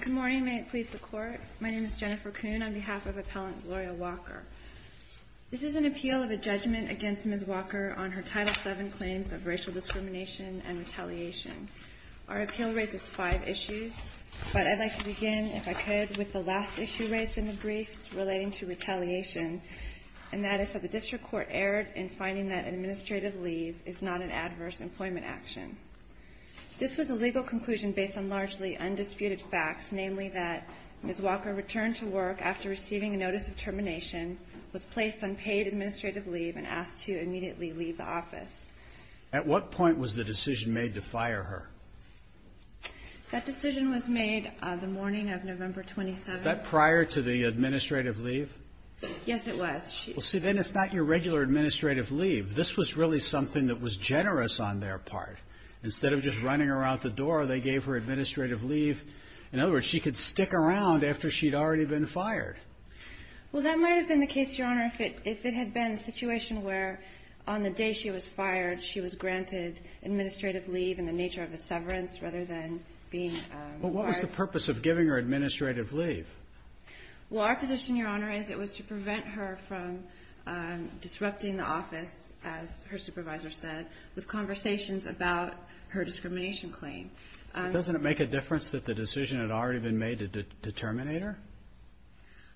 Good morning. May it please the Court. My name is Jennifer Kuhn on behalf of Appellant Gloria Walker. This is an appeal of a judgment against Ms. Walker on her Title VII claims of racial discrimination and retaliation. Our appeal raises five issues, but I'd like to begin, if I could, with the last issue raised in the briefs relating to retaliation, and that is that the District Court erred in finding that administrative leave is not an adverse employment action. This was a legal conclusion based on largely undisputed facts, namely that Ms. Walker returned to work after receiving a notice of termination, was placed on paid administrative leave, and asked to immediately leave the office. At what point was the decision made to fire her? That decision was made the morning of November 27th. That prior to the administrative leave? Yes, it was. Well, see, then it's not your regular administrative leave. This was really something that was generous on their part. Instead of just running her out the door, they gave her administrative leave. In other words, she could stick around after she'd already been fired. Well, that might have been the case, Your Honor, if it had been a situation where on the day she was fired, she was granted administrative leave in the nature of a severance rather than being fired. Well, what was the purpose of giving her administrative leave? Well, our position, Your Honor, is it was to prevent her from disrupting the office as her supervisor said, with conversations about her discrimination claim. But doesn't it make a difference that the decision had already been made to terminate her?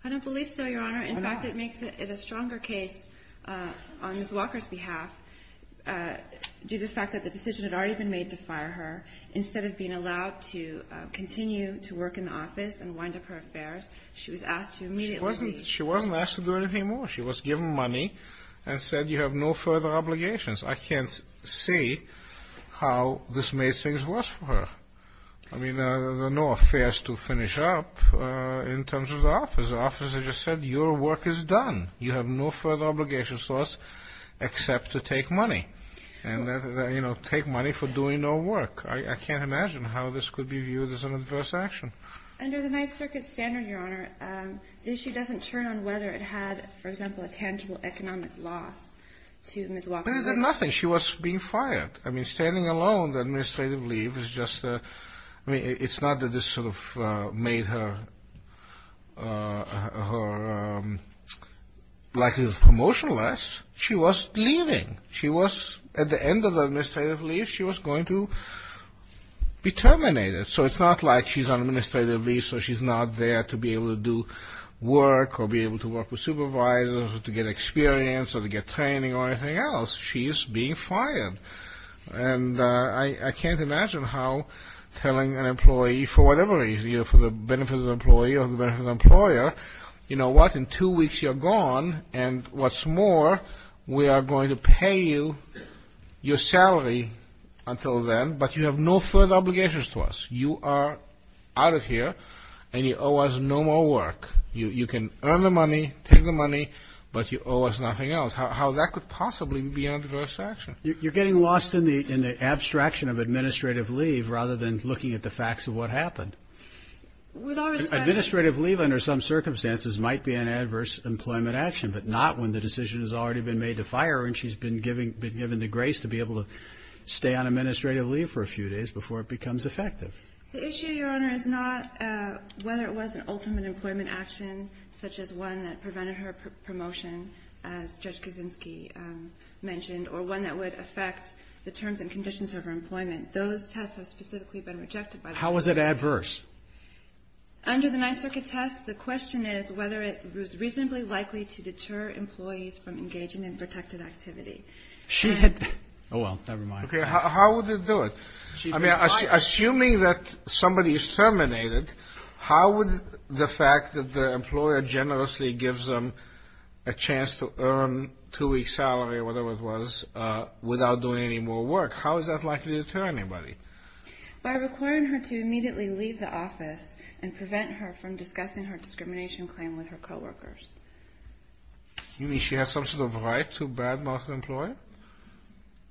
I don't believe so, Your Honor. In fact, it makes it a stronger case on Ms. Walker's behalf due to the fact that the decision had already been made to fire her. Instead of being allowed to continue to work in the office and wind up her affairs, she was asked to immediately leave. She wasn't asked to do anything more. She was given money and said, you have no further obligations. I can't see how this made things worse for her. I mean, there are no affairs to finish up in terms of the office. The officer just said, your work is done. You have no further obligations to us except to take money. And, you know, take money for doing no work. I can't imagine how this could be viewed as an adverse action. Under the Ninth Circuit standard, Your Honor, the issue doesn't turn on whether it had, for example, a tangible economic loss to Ms. Walker. Nothing. She was being fired. I mean, standing alone, the administrative leave is just a – I mean, it's not that this sort of made her likelihood of promotion less. She was leaving. She was – at the end of the administrative leave, she was going to be terminated. So it's not like she's on administrative leave, so she's not there to be able to do work or be able to work with supervisors or to get experience or to get training or anything else. She's being fired. And I can't imagine how telling an employee, for whatever reason, either for the benefit of the employee or the benefit of the employer, you know what, in two weeks you're gone, and what's more, we are going to pay you your salary until then, but you have no further obligations to us. You are out of here, and you owe us no more work. You can earn the money, take the money, but you owe us nothing else. How that could possibly be an adverse action. You're getting lost in the abstraction of administrative leave rather than looking at the facts of what happened. Administrative leave under some circumstances might be an adverse employment action, but not when the decision has already been made to fire her and she's been given the grace to be able to stay on administrative leave for a few days before it becomes effective. The issue, Your Honor, is not whether it was an ultimate employment action, such as one that prevented her promotion, as Judge Kaczynski mentioned, or one that would affect the terms and conditions of her employment. Those tests have specifically been rejected by the court. How is it adverse? Under the Ninth Circuit test, the question is whether it was reasonably likely to deter employees from engaging in protected activity. She had... Oh, well, never mind. How would it do it? I mean, assuming that somebody is terminated, how would the fact that the employer generously gives them a chance to earn a two-week salary or whatever it was without doing any more work, how is that likely to deter anybody? By requiring her to immediately leave the office and prevent her from discussing her You mean she had some sort of right to bad-mouth the employer?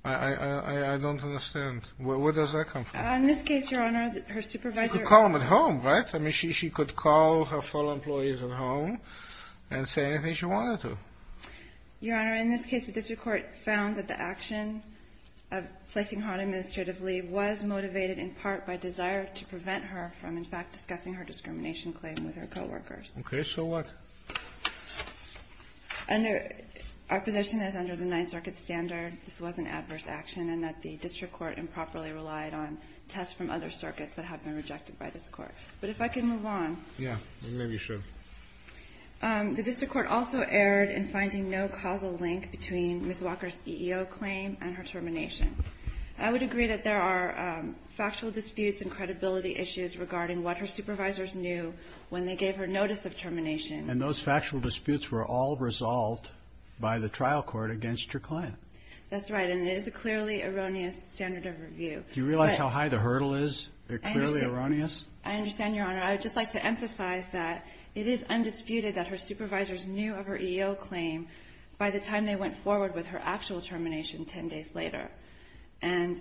I don't understand. Where does that come from? In this case, Your Honor, her supervisor... She could call him at home, right? I mean, she could call her fellow employees at home and say anything she wanted to. Your Honor, in this case, the district court found that the action of placing her on administrative leave was motivated in part by desire to prevent her from, in fact, discussing her discrimination claim with her co-workers. Okay, so what? Under... Our position is under the Ninth Circuit standard, this was an adverse action and that the district court improperly relied on tests from other circuits that have been rejected by this court. But if I can move on... Yeah, maybe you should. The district court also erred in finding no causal link between Ms. Walker's EEO claim and her termination. I would agree that there are factual disputes and credibility issues regarding what her supervisors knew when they gave her notice of termination. And those factual disputes were all resolved by the trial court against your client. That's right, and it is a clearly erroneous standard of review. Do you realize how high the hurdle is? They're clearly erroneous? I understand, Your Honor. I would just like to emphasize that it is undisputed that her supervisors knew of her EEO claim by the time they went forward with her actual termination 10 days later. And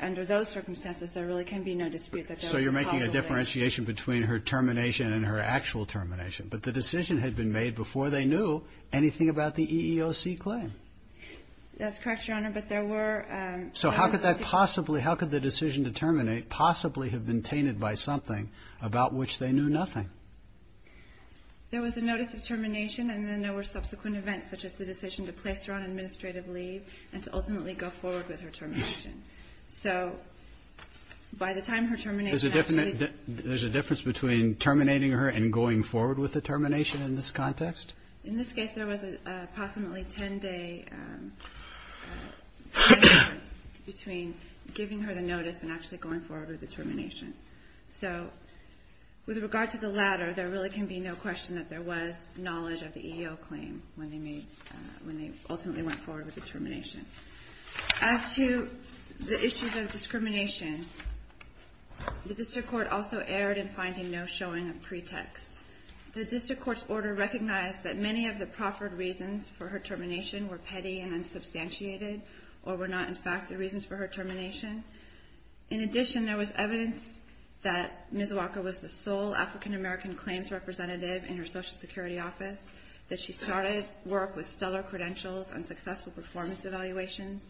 under those circumstances, there really can be no dispute that those are causal links. So you're making a differentiation between her termination and her actual termination. But the decision had been made before they knew anything about the EEOC claim. That's correct, Your Honor, but there were... So how could that possibly, how could the decision to terminate possibly have been tainted by something about which they knew nothing? There was a notice of termination and then there were subsequent events such as the decision to place her on administrative leave and to ultimately go forward with her termination. So by the time her termination... There's a difference between terminating her and going forward with the termination in this context? In this case, there was a possibly 10-day difference between giving her the notice and actually going forward with the termination. So with regard to the latter, there really can be no question that there was knowledge of the EEO claim when they made, when they The district court also erred in finding no showing of pretext. The district court's order recognized that many of the proffered reasons for her termination were petty and unsubstantiated or were not in fact the reasons for her termination. In addition, there was evidence that Ms. Walker was the sole African-American claims representative in her Social Security office, that she started work with stellar credentials on successful performance evaluations,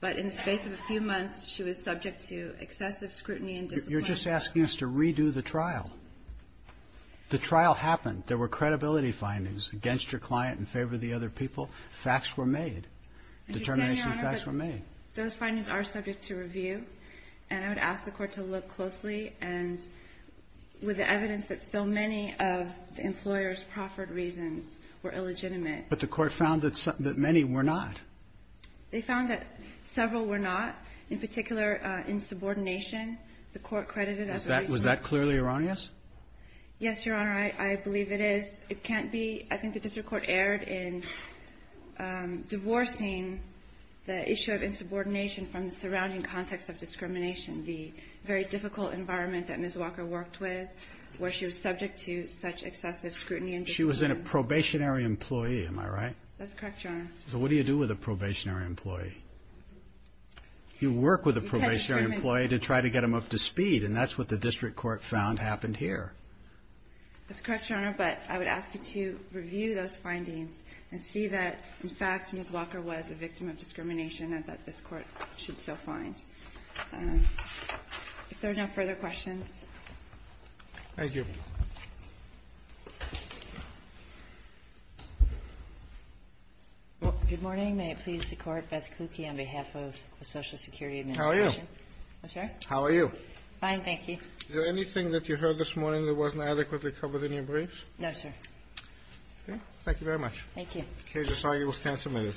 but in the space of a few months, she was subject to excessive scrutiny and discipline. You're just asking us to redo the trial. The trial happened. There were credibility findings against your client in favor of the other people. Facts were made. Determination of facts were made. Those findings are subject to review, and I would ask the Court to look closely and with the evidence that so many of the employers' proffered reasons were illegitimate. But the Court found that many were not. They found that several were not. In particular, insubordination, the Court credited as a reason. Was that clearly erroneous? Yes, Your Honor, I believe it is. It can't be. I think the district court erred in divorcing the issue of insubordination from the surrounding context of discrimination, the very difficult environment that Ms. Walker worked with, where she was subject to such excessive scrutiny and discipline. She was a probationary employee, am I right? That's correct, Your Honor. So what do you do with a probationary employee? You work with a probationary employee to try to get them up to speed, and that's what the district court found happened here. That's correct, Your Honor, but I would ask you to review those findings and see that, in fact, Ms. Walker was a victim of discrimination and that this Court should still find. Thank you. Well, good morning. May it please the Court, Beth Kluke on behalf of the Social Security Administration. How are you? I'm sorry? How are you? Fine, thank you. Is there anything that you heard this morning that wasn't adequately covered in your briefs? No, sir. Okay. Thank you very much. Thank you. The case is argued. The stand is submitted.